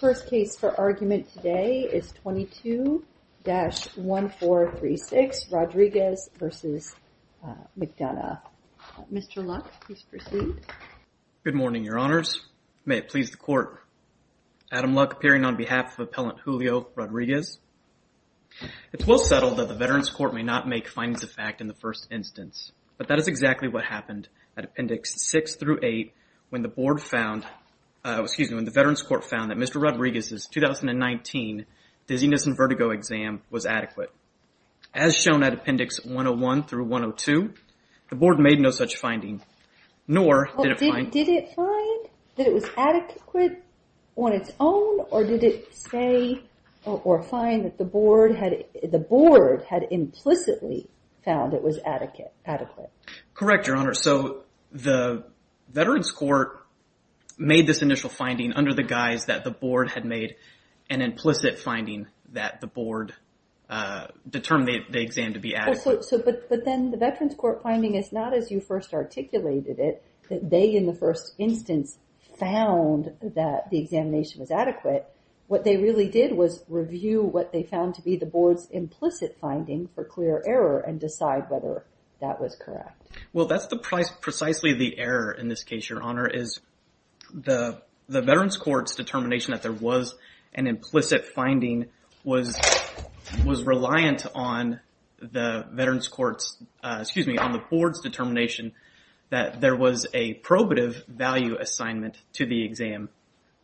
First case for argument today is 22-1436, Rodriguez v. McDonough. Mr. Luck, please proceed. Good morning, your honors. May it please the court, Adam Luck appearing on behalf of Appellant Julio Rodriguez. It's well settled that the Veterans Court may not make findings of fact in the first instance, but that is exactly what happened at Appendix 6 through 8 when the board found, excuse me, when the Veterans Court found that Mr. Rodriguez's 2019 Dizziness and Vertigo exam was adequate. As shown at Appendix 101 through 102, the board made no such finding, nor did it find... Did it find that it was adequate on its own, or did it say or find that the board had implicitly found it was adequate? Correct, your honors. So the Veterans Court made this initial finding under the guise that the board had made an implicit finding that the board determined the exam to be adequate. But then the Veterans Court finding is not as you first articulated it, that they in the first instance found that the examination was adequate. What they really did was review what they found to be the board's implicit finding for clear error and decide whether that was correct. Well, that's precisely the error in this case, your honor, is the Veterans Court's determination that there was an implicit finding was reliant on the Veterans Court's, excuse me, on the board's determination that there was a probative value assignment to the exam.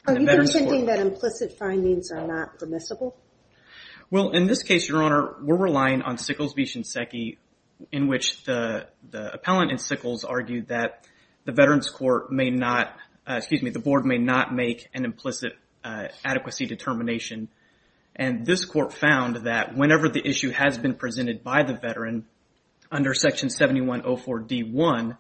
Are you pretending that implicit findings are not permissible? Well, in this case, your honor, we're relying on Sickles v. Shinseki, in which the appellant and Sickles argued that the Veterans Court may not, excuse me, the board may not make an implicit adequacy determination. And this court found that whenever the issue has been presented by the veteran under section 7104 D1,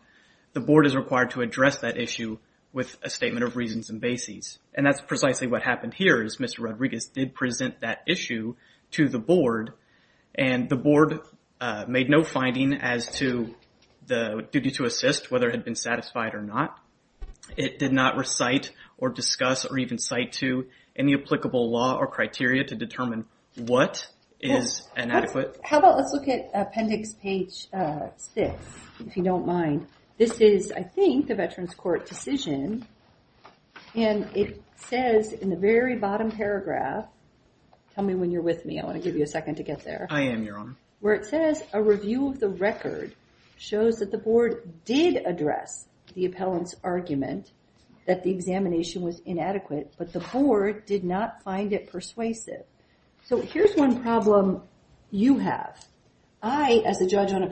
the board is required to address that issue with a statement of reasons and bases. And that's precisely what happened here, is Mr. Rodriguez did present that issue to the board and the board made no finding as to the duty to assist, whether it had been satisfied or not. It did not recite or discuss or even cite to any applicable law or criteria to determine what is inadequate. How about let's look at appendix page six, if you don't mind. This is, I think, the Veterans Court decision and it says in the very bottom paragraph, tell me when you're with me, I want to give you a second to get there. I am, your honor. Where it says a review of the record shows that the board did address the appellant's argument that the examination was inadequate, but the board did not find it persuasive. So here's one problem you have. I, as a judge on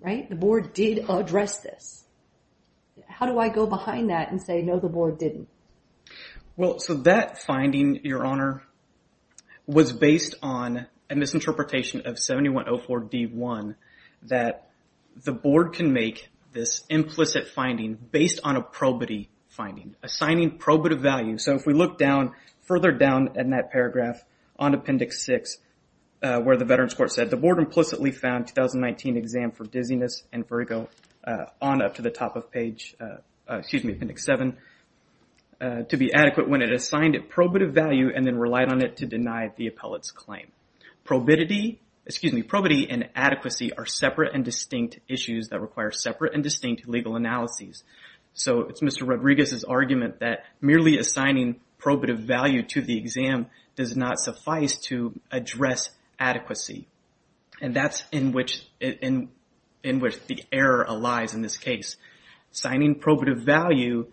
right, the board did address this. How do I go behind that and say no, the board didn't? Well, so that finding, your honor, was based on a misinterpretation of 7104 D1 that the board can make this implicit finding based on a probity finding, assigning probative value. So if we look down, further down in that paragraph on appendix six, where the Veterans Court said the board implicitly found 2019 exam for dizziness and Virgo on up to the top of page, excuse me, appendix seven, to be adequate when it assigned it probative value and then relied on it to deny the appellate's claim. Probity, excuse me, probity and adequacy are separate and distinct issues that require separate and distinct legal analyses. So it's Mr. Rodriguez's argument that merely assigning probative value to the exam does not suffice to address adequacy. And that's in which the error lies in this case. Assigning probative value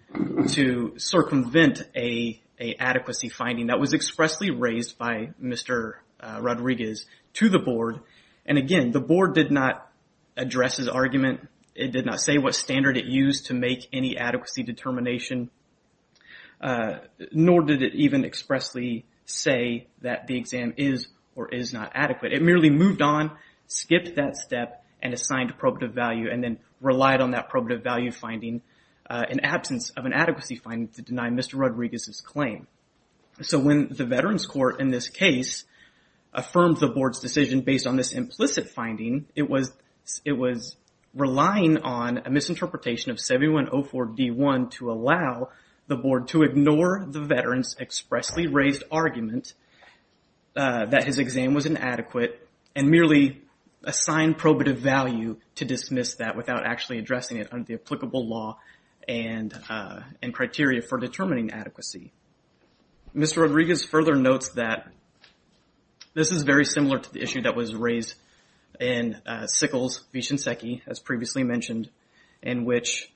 to circumvent an adequacy finding that was expressly raised by Mr. Rodriguez to the board. And again, the board did not address his argument. It did not say what standard it used to make any adequacy determination. Nor did it even expressly say that the exam is or is not adequate. It merely moved on, skipped that step and assigned probative value and then relied on that probative value finding in absence of an adequacy finding to deny Mr. Rodriguez's claim. So when the Veterans Court in this case affirmed the board's decision based on this implicit finding, it was relying on a misinterpretation of 7104 D1 to allow the board to ignore the veterans expressly raised argument that his exam was inadequate and merely assigned probative value to dismiss that without actually addressing it under the applicable law and criteria for determining adequacy. Mr. Rodriguez further notes that this is very similar to the issue that was raised in Sickles v. Shinseki, as previously mentioned, in which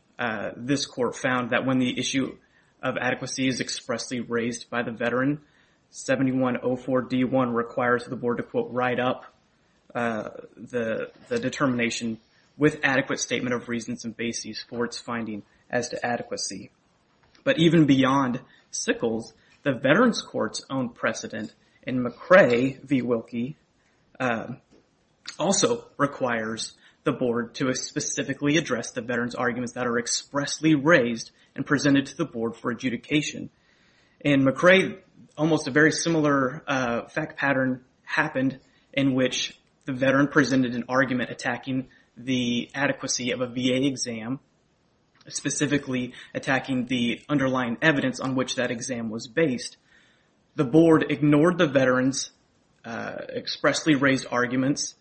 this court found that when the issue of adequacy is expressly raised by the veteran, 7104 D1 requires the board to quote, write up the determination with adequate statement of reasons and basis for its finding as to adequacy. But even beyond Sickles, the Veterans Court's own precedent in McRae v. Wilkie also requires the board to specifically address the veterans arguments that are expressly raised and presented to the board for adjudication. In McRae, almost a very similar fact pattern happened in which the veteran presented an argument attacking the adequacy of a VA exam, specifically attacking the underlying evidence on which that exam was based. The board ignored the veterans expressly raised arguments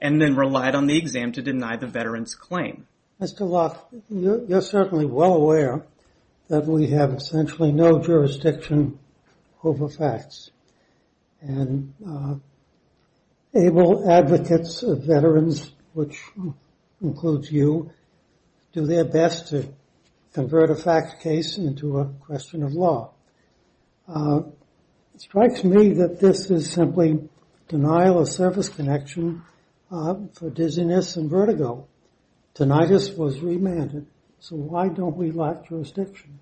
and then relied on the exam to deny the veterans claim. Mr. Locke, you're certainly well aware that we have essentially no jurisdiction over facts and able advocates of veterans, which includes you, do their best to convert a fact case into a question of law. It strikes me that this is simply denial of service connection for dizziness and vertigo. Tinnitus was remanded, so why don't we lack jurisdiction?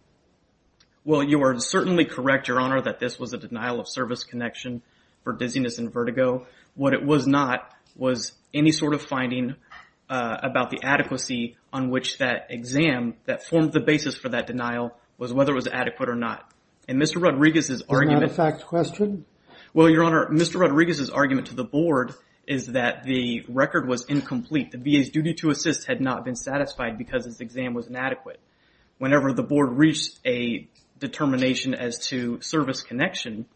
Well, you are certainly correct, Your Honor, that this was a denial of service connection for dizziness and vertigo. What it was not was any sort of finding about the adequacy on which that exam that formed the basis for that denial was whether it was adequate or not. And Mr. Rodriguez's argument... Is that a fact question? Well, Your Honor, Mr. Rodriguez's argument to the board is that the record was incomplete. The VA's duty to assist had not been satisfied because his exam was inadequate. Whenever the board reached a determination as to service connection,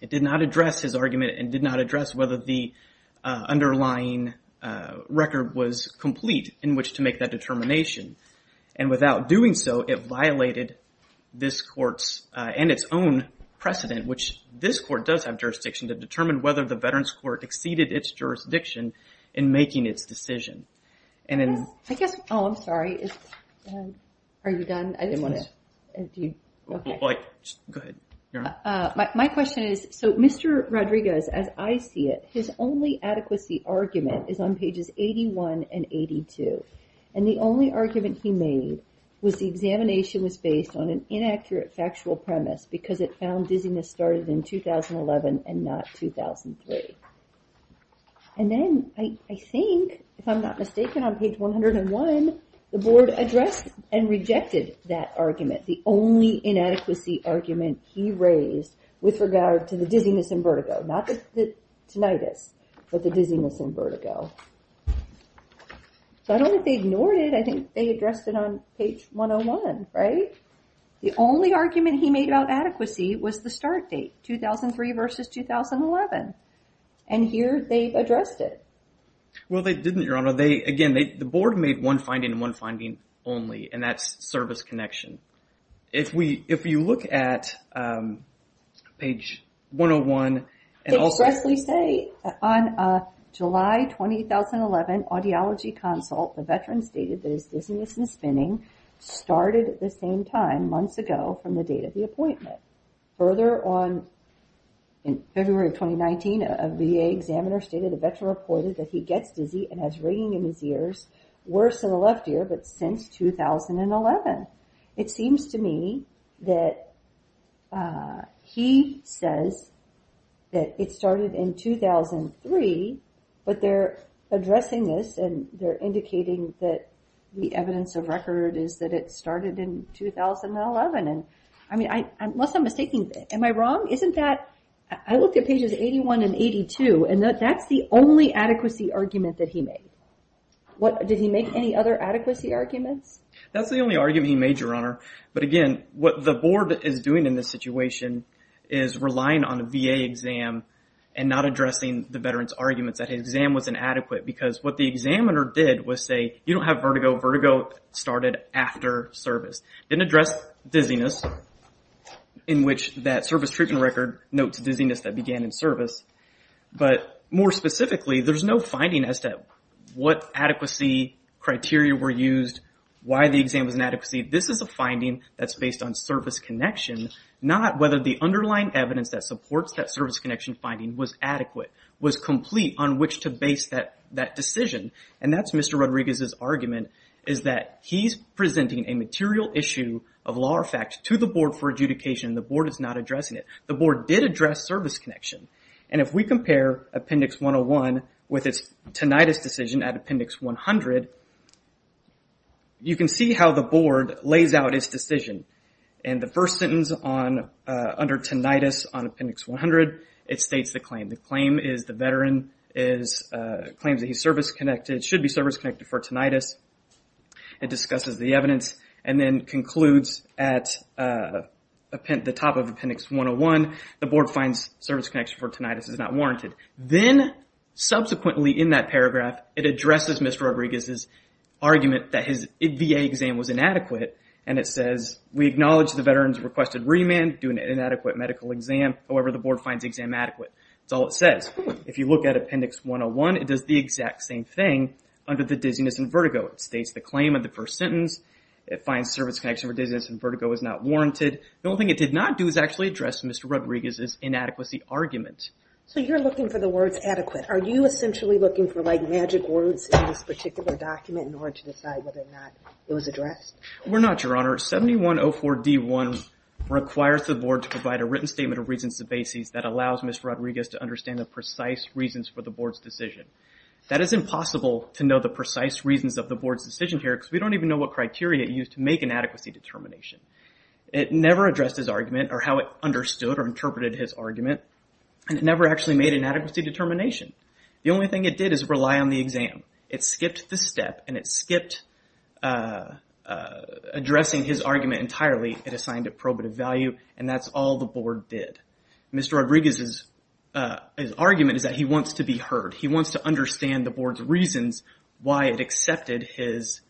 it did not address his argument and did not address whether the underlying record was complete in which to and its own precedent, which this court does have jurisdiction to determine whether the veterans court exceeded its jurisdiction in making its decision. I guess... Oh, I'm sorry. Are you done? I didn't want to... My question is, so Mr. Rodriguez, as I see it, his only adequacy argument is on pages 81 and 82. And the only argument he made was the examination was based on an inaccurate factual premise because it found dizziness started in 2011 and not 2003. And then I think, if I'm not mistaken, on page 101, the board addressed and rejected that argument, the only inadequacy argument he raised with regard to the dizziness and vertigo, not the tinnitus, but the dizziness and vertigo. So I don't think they ignored it. I think they addressed it on page 101, right? The only argument he made about adequacy was the start date, 2003 versus 2011. And here they addressed it. Well, they didn't, Your Honor. Again, the board made one finding and one finding only, and that's service connection. If you look at page 101 and also... I will stressfully say, on July 2011 audiology consult, the veteran stated that his dizziness and spinning started at the same time, months ago, from the date of the appointment. Further on, in February of 2019, a VA examiner stated the veteran reported that he gets dizzy and has ringing in his ears, worse in the left ear, but since 2011. It seems to me that he says that it started in 2003, but they're addressing this, and they're indicating that the evidence of record is that it started in 2011. I mean, unless I'm mistaken, am I wrong? Isn't that... I looked at pages 81 and 82, and that's the only adequacy argument that he made. Did he make any other adequacy arguments? That's the only argument he made, Your Honor, but again, what the board is doing in this situation is relying on a VA exam and not addressing the veteran's arguments that his exam was inadequate, because what the examiner did was say, you don't have vertigo. Vertigo started after service. Didn't address dizziness in which that service treatment record notes dizziness that began in service, but more specifically, there's no finding as to what adequacy criteria were used, why the exam was inadequate. This is a finding that's based on service connection, not whether the underlying evidence that supports that service connection finding was adequate, was complete on which to base that decision, and that's Mr. Rodriguez's argument, is that he's presenting a material issue of law or fact to the board for adjudication, and the board is not addressing it. The board did address service connection, and if we compare Appendix 101 with its tinnitus decision at Appendix 100, you can see how the board lays out its decision, and the first sentence under tinnitus on Appendix 100, it states the claim. The claim is the veteran claims that he's service-connected, should be service-connected for tinnitus, it discusses the evidence, and then concludes at the top of Appendix 101, the board finds service connection for tinnitus is not warranted. Then, subsequently in that paragraph, it addresses Mr. Rodriguez's argument that his VA exam was inadequate, and it says, we acknowledge the veteran's requested remand, do an inadequate medical exam, however, the board finds the exam adequate. That's all it says. If you look at Appendix 101, it does the exact same thing under the dizziness and vertigo. It states the claim of the first sentence, it finds service connection for dizziness and vertigo is not warranted. The only thing it did not do is actually address Mr. Rodriguez's inadequacy argument. So you're looking for the words adequate. Are you essentially looking for like magic words in this particular document in order to decide whether or not it was addressed? We're not, Your Honor. 7104D1 requires the board to provide a written statement of reasons to basis that allows Ms. Rodriguez to understand the precise reasons for the board's decision. That is impossible to know the precise reasons of the board's decision here because we don't even know what criteria it used to make an adequacy determination. It never addressed his argument or how it understood or interpreted his argument. And it never actually made an adequacy determination. The only thing it did is rely on the exam. It skipped the step and it skipped addressing his argument entirely. It assigned it probative value and that's all the board did. Mr. Rodriguez's argument is that he wants to be heard. He wants to understand the board's reasons why it accepted his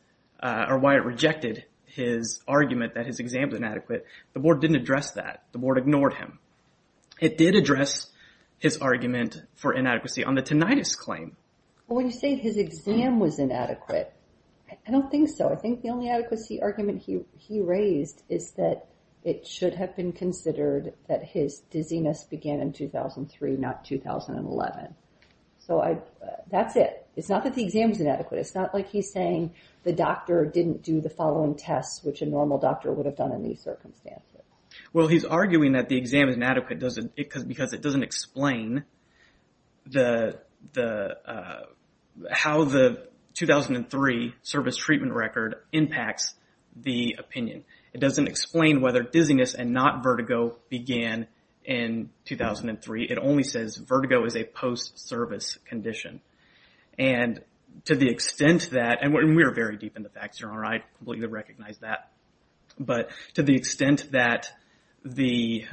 or why it rejected his argument that his exam is inadequate. The board didn't address that. The board ignored him. It did address his argument for inadequacy on the tinnitus claim. When you say his exam was inadequate, I don't think so. I think the only adequacy argument he raised is that it should have been considered that his dizziness began in 2003, not 2011. So that's it. It's not that the exam is inadequate. It's not like he's saying the doctor didn't do the following tests which a normal doctor would have done in these circumstances. Well, he's arguing that the exam is inadequate because it doesn't explain how the 2003 service treatment record impacts the opinion. It doesn't explain whether dizziness and not vertigo began in 2003. It only says vertigo is a post-service condition and to the extent that, and we're very deep in the facts here, I completely recognize that, but to the extent that the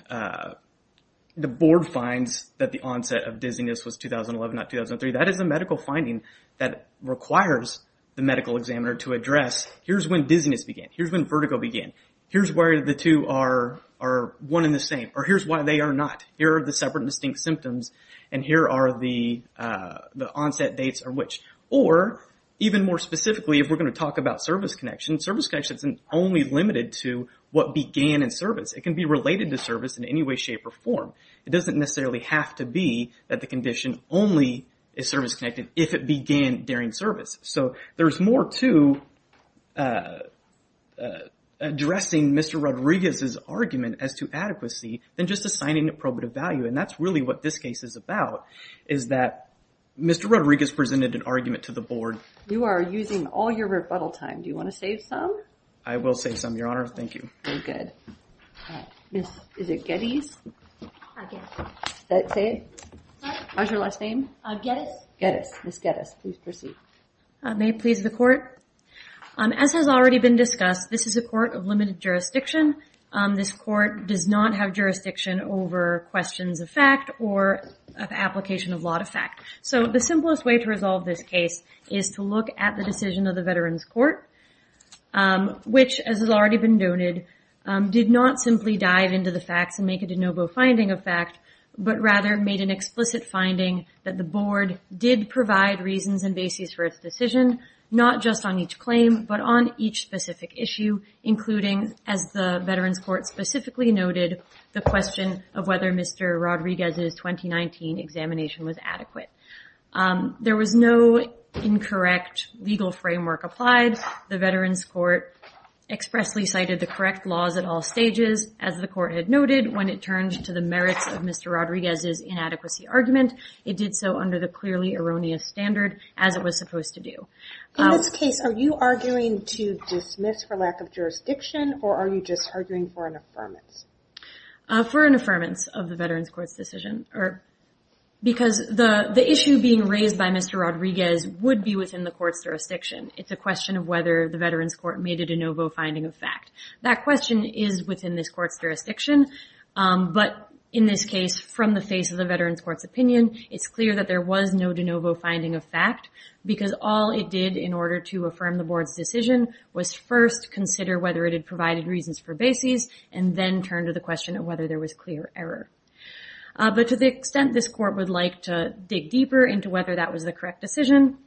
board finds that the onset of dizziness was 2011, not 2003, that is a medical finding that requires the medical examiner to address, here's when dizziness began. Here's when vertigo began. Here's where the two are one and the same, or here's why they are not. Here are the separate and distinct symptoms, and here are the onset dates of which. Or, even more specifically, if we're going to talk about service connection, service connection isn't only limited to what began in service. It can be related to service in any way, shape, or form. It doesn't necessarily have to be that the condition only is service-connected if it began during service. So, there's more to addressing Mr. Rodriguez's argument as to adequacy than just assigning a probative value, and that's really what this case is about, is that Mr. Rodriguez presented an argument to the board. You are using all your rebuttal time. Do you want to save some? I will save some, Your Honor. Thank you. Very good. Miss, is it Geddes? I guess. Say it? Sorry? What was your last name? Geddes. Geddes. Miss Geddes, please proceed. I may please the court. As has already been discussed, this is a court of limited jurisdiction. This court does not have jurisdiction over questions of fact or of application of law to fact. So, the simplest way to resolve this case is to look at the decision of the Veterans Court, which, as has already been noted, did not simply dive into the facts and make a de novo finding of fact, but rather made an explicit finding that the board did provide reasons and basis for its decision, not just on each claim, but on each specific issue, including, as the Veterans Court specifically noted, the question of whether Mr. Rodriguez's 2019 examination was adequate. There was no incorrect legal framework applied. The Veterans Court expressly cited the correct laws at all stages, as the court had noted, when it turned to the merits of Mr. Rodriguez's inadequacy argument. It did so under the clearly erroneous standard, as it was supposed to do. In this case, are you arguing to dismiss for lack of jurisdiction, or are you just arguing for an affirmance? For an affirmance of the Veterans Court's decision, because the issue being raised by Mr. Rodriguez would be within the court's jurisdiction. It's a question of whether the Veterans Court made a de novo finding of fact. That question is within this court's jurisdiction, but in this case, from the face of the Veterans Court's opinion, it's clear that there was no de novo finding of fact, because all it did in order to affirm the board's decision was first consider whether it had whether there was clear error. But to the extent this court would like to dig deeper into whether that was the correct decision,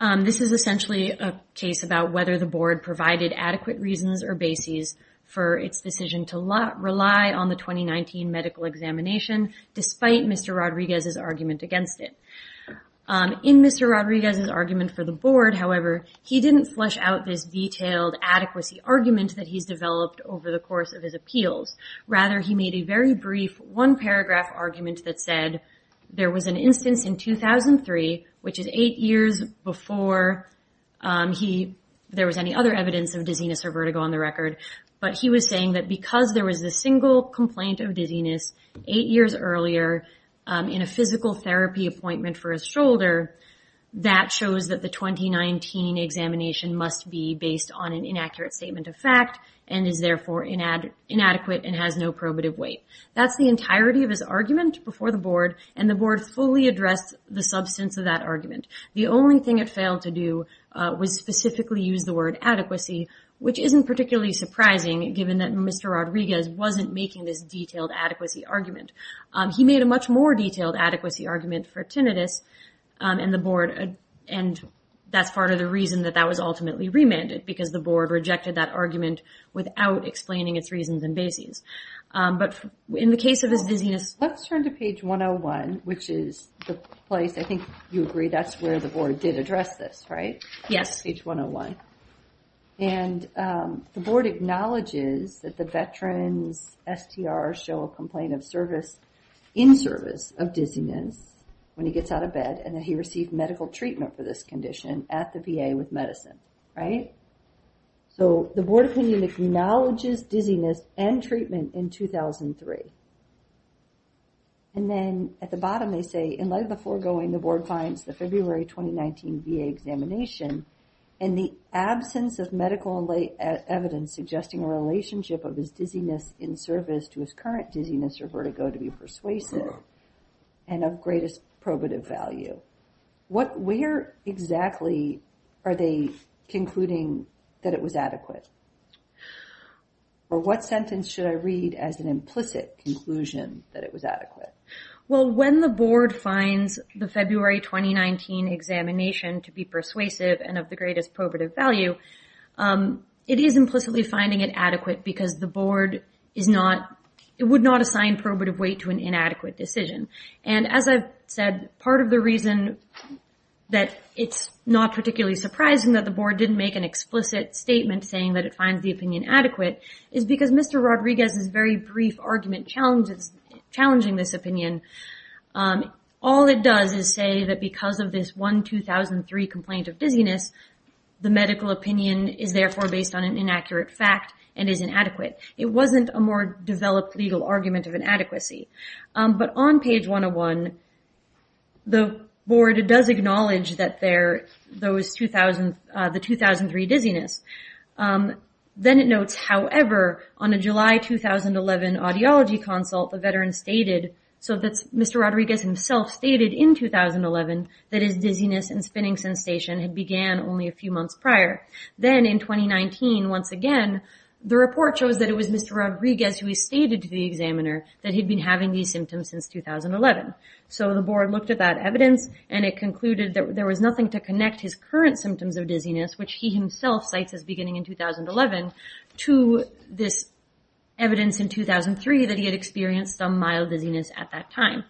this is essentially a case about whether the board provided adequate reasons or bases for its decision to rely on the 2019 medical examination, despite Mr. Rodriguez's argument against it. In Mr. Rodriguez's argument for the board, however, he didn't flesh out this detailed adequacy argument that he's developed over the course of his appeals. Rather, he made a very brief one-paragraph argument that said there was an instance in 2003, which is eight years before there was any other evidence of dizziness or vertigo on the record, but he was saying that because there was a single complaint of dizziness eight years earlier in a physical therapy appointment for his shoulder, that shows that 2019 examination must be based on an inaccurate statement of fact and is therefore inadequate and has no probative weight. That's the entirety of his argument before the board, and the board fully addressed the substance of that argument. The only thing it failed to do was specifically use the word adequacy, which isn't particularly surprising given that Mr. Rodriguez wasn't making this detailed adequacy argument. He made a much more detailed adequacy argument for tinnitus, and that's part of the reason that that was ultimately remanded, because the board rejected that argument without explaining its reasons and bases. But in the case of his dizziness... Let's turn to page 101, which is the place, I think you agree, that's where the board did address this, right? Yes. Page 101. And the board acknowledges that the veterans STR show a complaint of service, in service of dizziness when he gets out of bed, and that he received medical treatment for this condition at the VA with medicine, right? So the board opinion acknowledges dizziness and treatment in 2003. And then at the bottom they say, in light of the foregoing, the board finds the February 2019 VA examination in the absence of medical evidence suggesting a relationship of his dizziness in service to his current dizziness or vertigo to be persuasive, and of greatest probative value. What, where exactly are they concluding that it was adequate? Or what sentence should I read as an implicit conclusion that it was adequate? Well, when the board finds the February 2019 examination to be persuasive and of the greatest probative value, it is implicitly finding it adequate because the board would not assign probative weight to an inadequate decision. And as I've said, part of the reason that it's not particularly surprising that the board didn't make an explicit statement saying that it finds the opinion adequate is because Mr. Rodriguez's very brief argument challenges, challenging this opinion. All it does is say that because of this one 2003 complaint of dizziness, the medical opinion is therefore based on an inaccurate fact and is inadequate. It wasn't a more developed legal argument of inadequacy. But on page 101, the board does acknowledge that there, those 2000, the 2003 dizziness. Um, then it notes, however, on a July 2011 audiology consult, the veteran stated, so that's Mr. Rodriguez himself stated in 2011, that his dizziness and spinning sensation had began only a few months prior. Then in 2019, once again, the report shows that it was Mr. Rodriguez who stated to the examiner that he'd been having these symptoms since 2011. So the board looked at that evidence and it concluded that there was nothing to connect his current symptoms of dizziness, which he himself cites as beginning in 2011 to this evidence in 2003 that he had experienced some mild dizziness at that time.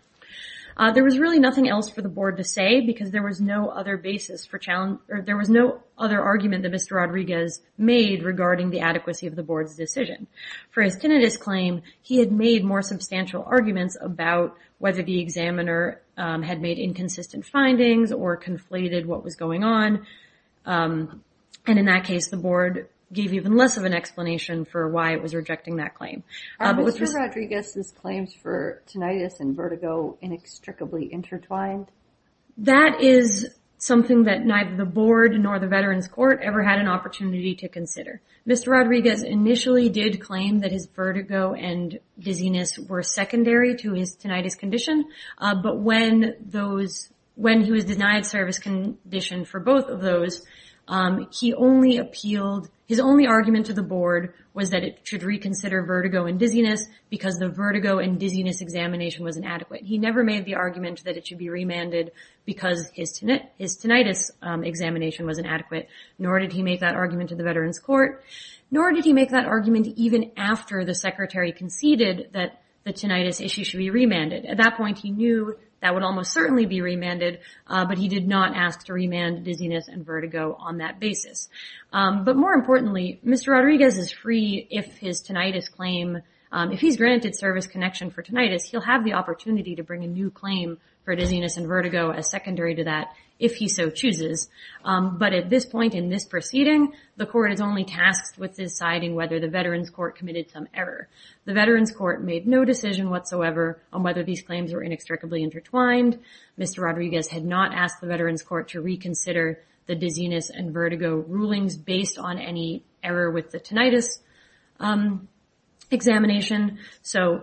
There was really nothing else for the board to say because there was no other basis for challenge or there was no other argument that Mr. Rodriguez made regarding the adequacy of the board's decision. For his tinnitus claim, he had made more substantial arguments about whether the examiner had made inconsistent findings or conflated what was going on. And in that case, the board gave even less of an explanation for why it was rejecting that claim. Um, but was Mr. Rodriguez's claims for tinnitus and vertigo inextricably intertwined? That is something that neither the board nor the veteran's court ever had an opportunity to consider. Mr. Rodriguez initially did claim that his vertigo and dizziness were secondary to his when those when he was denied service condition for both of those. He only appealed his only argument to the board was that it should reconsider vertigo and dizziness because the vertigo and dizziness examination wasn't adequate. He never made the argument that it should be remanded because his tinnitus examination wasn't adequate, nor did he make that argument to the veteran's court, nor did he make that argument even after the secretary conceded that the tinnitus issue should be remanded. At that point, he knew that would almost certainly be remanded, but he did not ask to remand dizziness and vertigo on that basis. But more importantly, Mr. Rodriguez is free if his tinnitus claim, if he's granted service connection for tinnitus, he'll have the opportunity to bring a new claim for dizziness and vertigo as secondary to that if he so chooses. But at this point in this proceeding, the court is only tasked with deciding whether the veteran's court committed some error. The veteran's court made no decision whatsoever on whether these claims were inextricably intertwined. Mr. Rodriguez had not asked the veteran's court to reconsider the dizziness and vertigo rulings based on any error with the tinnitus examination. So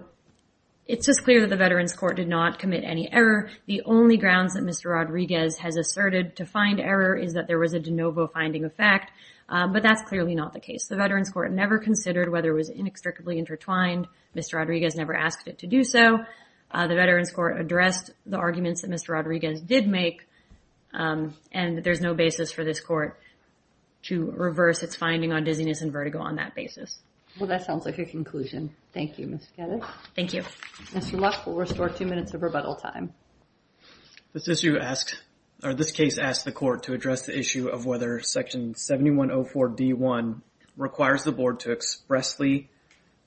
it's just clear that the veteran's court did not commit any error. The only grounds that Mr. Rodriguez has asserted to find error is that there was a de novo finding of fact, but that's clearly not the case. The veteran's court never considered whether it was inextricably intertwined. Mr. Rodriguez never asked it to do so. The veteran's court addressed the arguments that Mr. Rodriguez did make. And there's no basis for this court to reverse its finding on dizziness and vertigo on that basis. Well, that sounds like a conclusion. Thank you, Ms. Skelos. Thank you. Mr. Luck, we'll restore two minutes of rebuttal time. This issue asks, or this case asks the court to address the issue of whether section 7104 D1 requires the board to expressly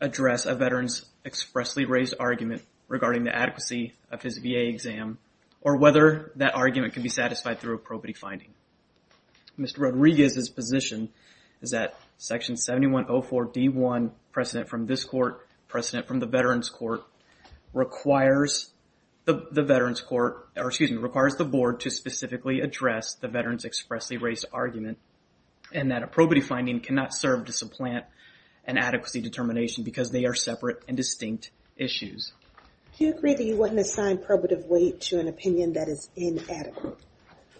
address a veteran's expressly raised argument regarding the adequacy of his VA exam, or whether that argument can be satisfied through a probity finding. Mr. Rodriguez's position is that section 7104 D1, precedent from this court, precedent from the veteran's court, requires the veteran's court, or excuse me, requires the board to specifically address the veteran's expressly raised argument. And that a probity finding cannot serve to supplant an adequacy determination because they are separate and distinct issues. Do you agree that you wouldn't assign probative weight to an opinion that is inadequate?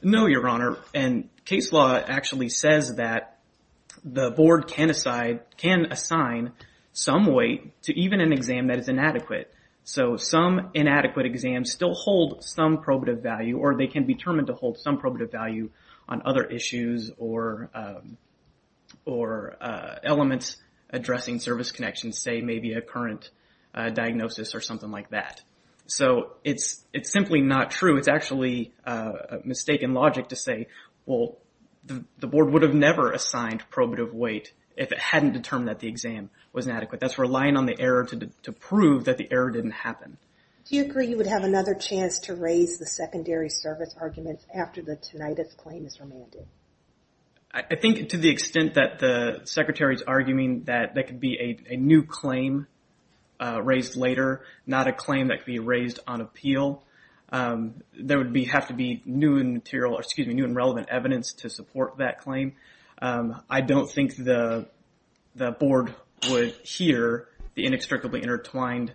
No, Your Honor. And case law actually says that the board can assign some weight to even an exam that is inadequate. So some inadequate exams still hold some probative value, or they can be determined to hold some probative value on other issues or elements addressing service connections, say maybe a current diagnosis or something like that. So it's simply not true. It's actually a mistaken logic to say, well, the board would have never assigned probative weight if it hadn't determined that the exam was inadequate. That's relying on the error to prove that the error didn't happen. Do you agree you would have another chance to raise the secondary service argument after the tinnitus claim is remanded? I think to the extent that the secretary is arguing that there could be a new claim raised later, not a claim that could be raised on appeal. There would have to be new and relevant evidence to support that claim. I don't think the board would hear the inextricably intertwined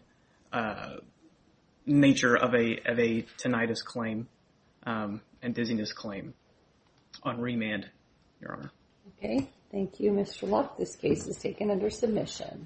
nature of a tinnitus claim and dizziness claim on remand, Your Honor. Okay. Thank you, Mr. Luck. This case is taken under submission.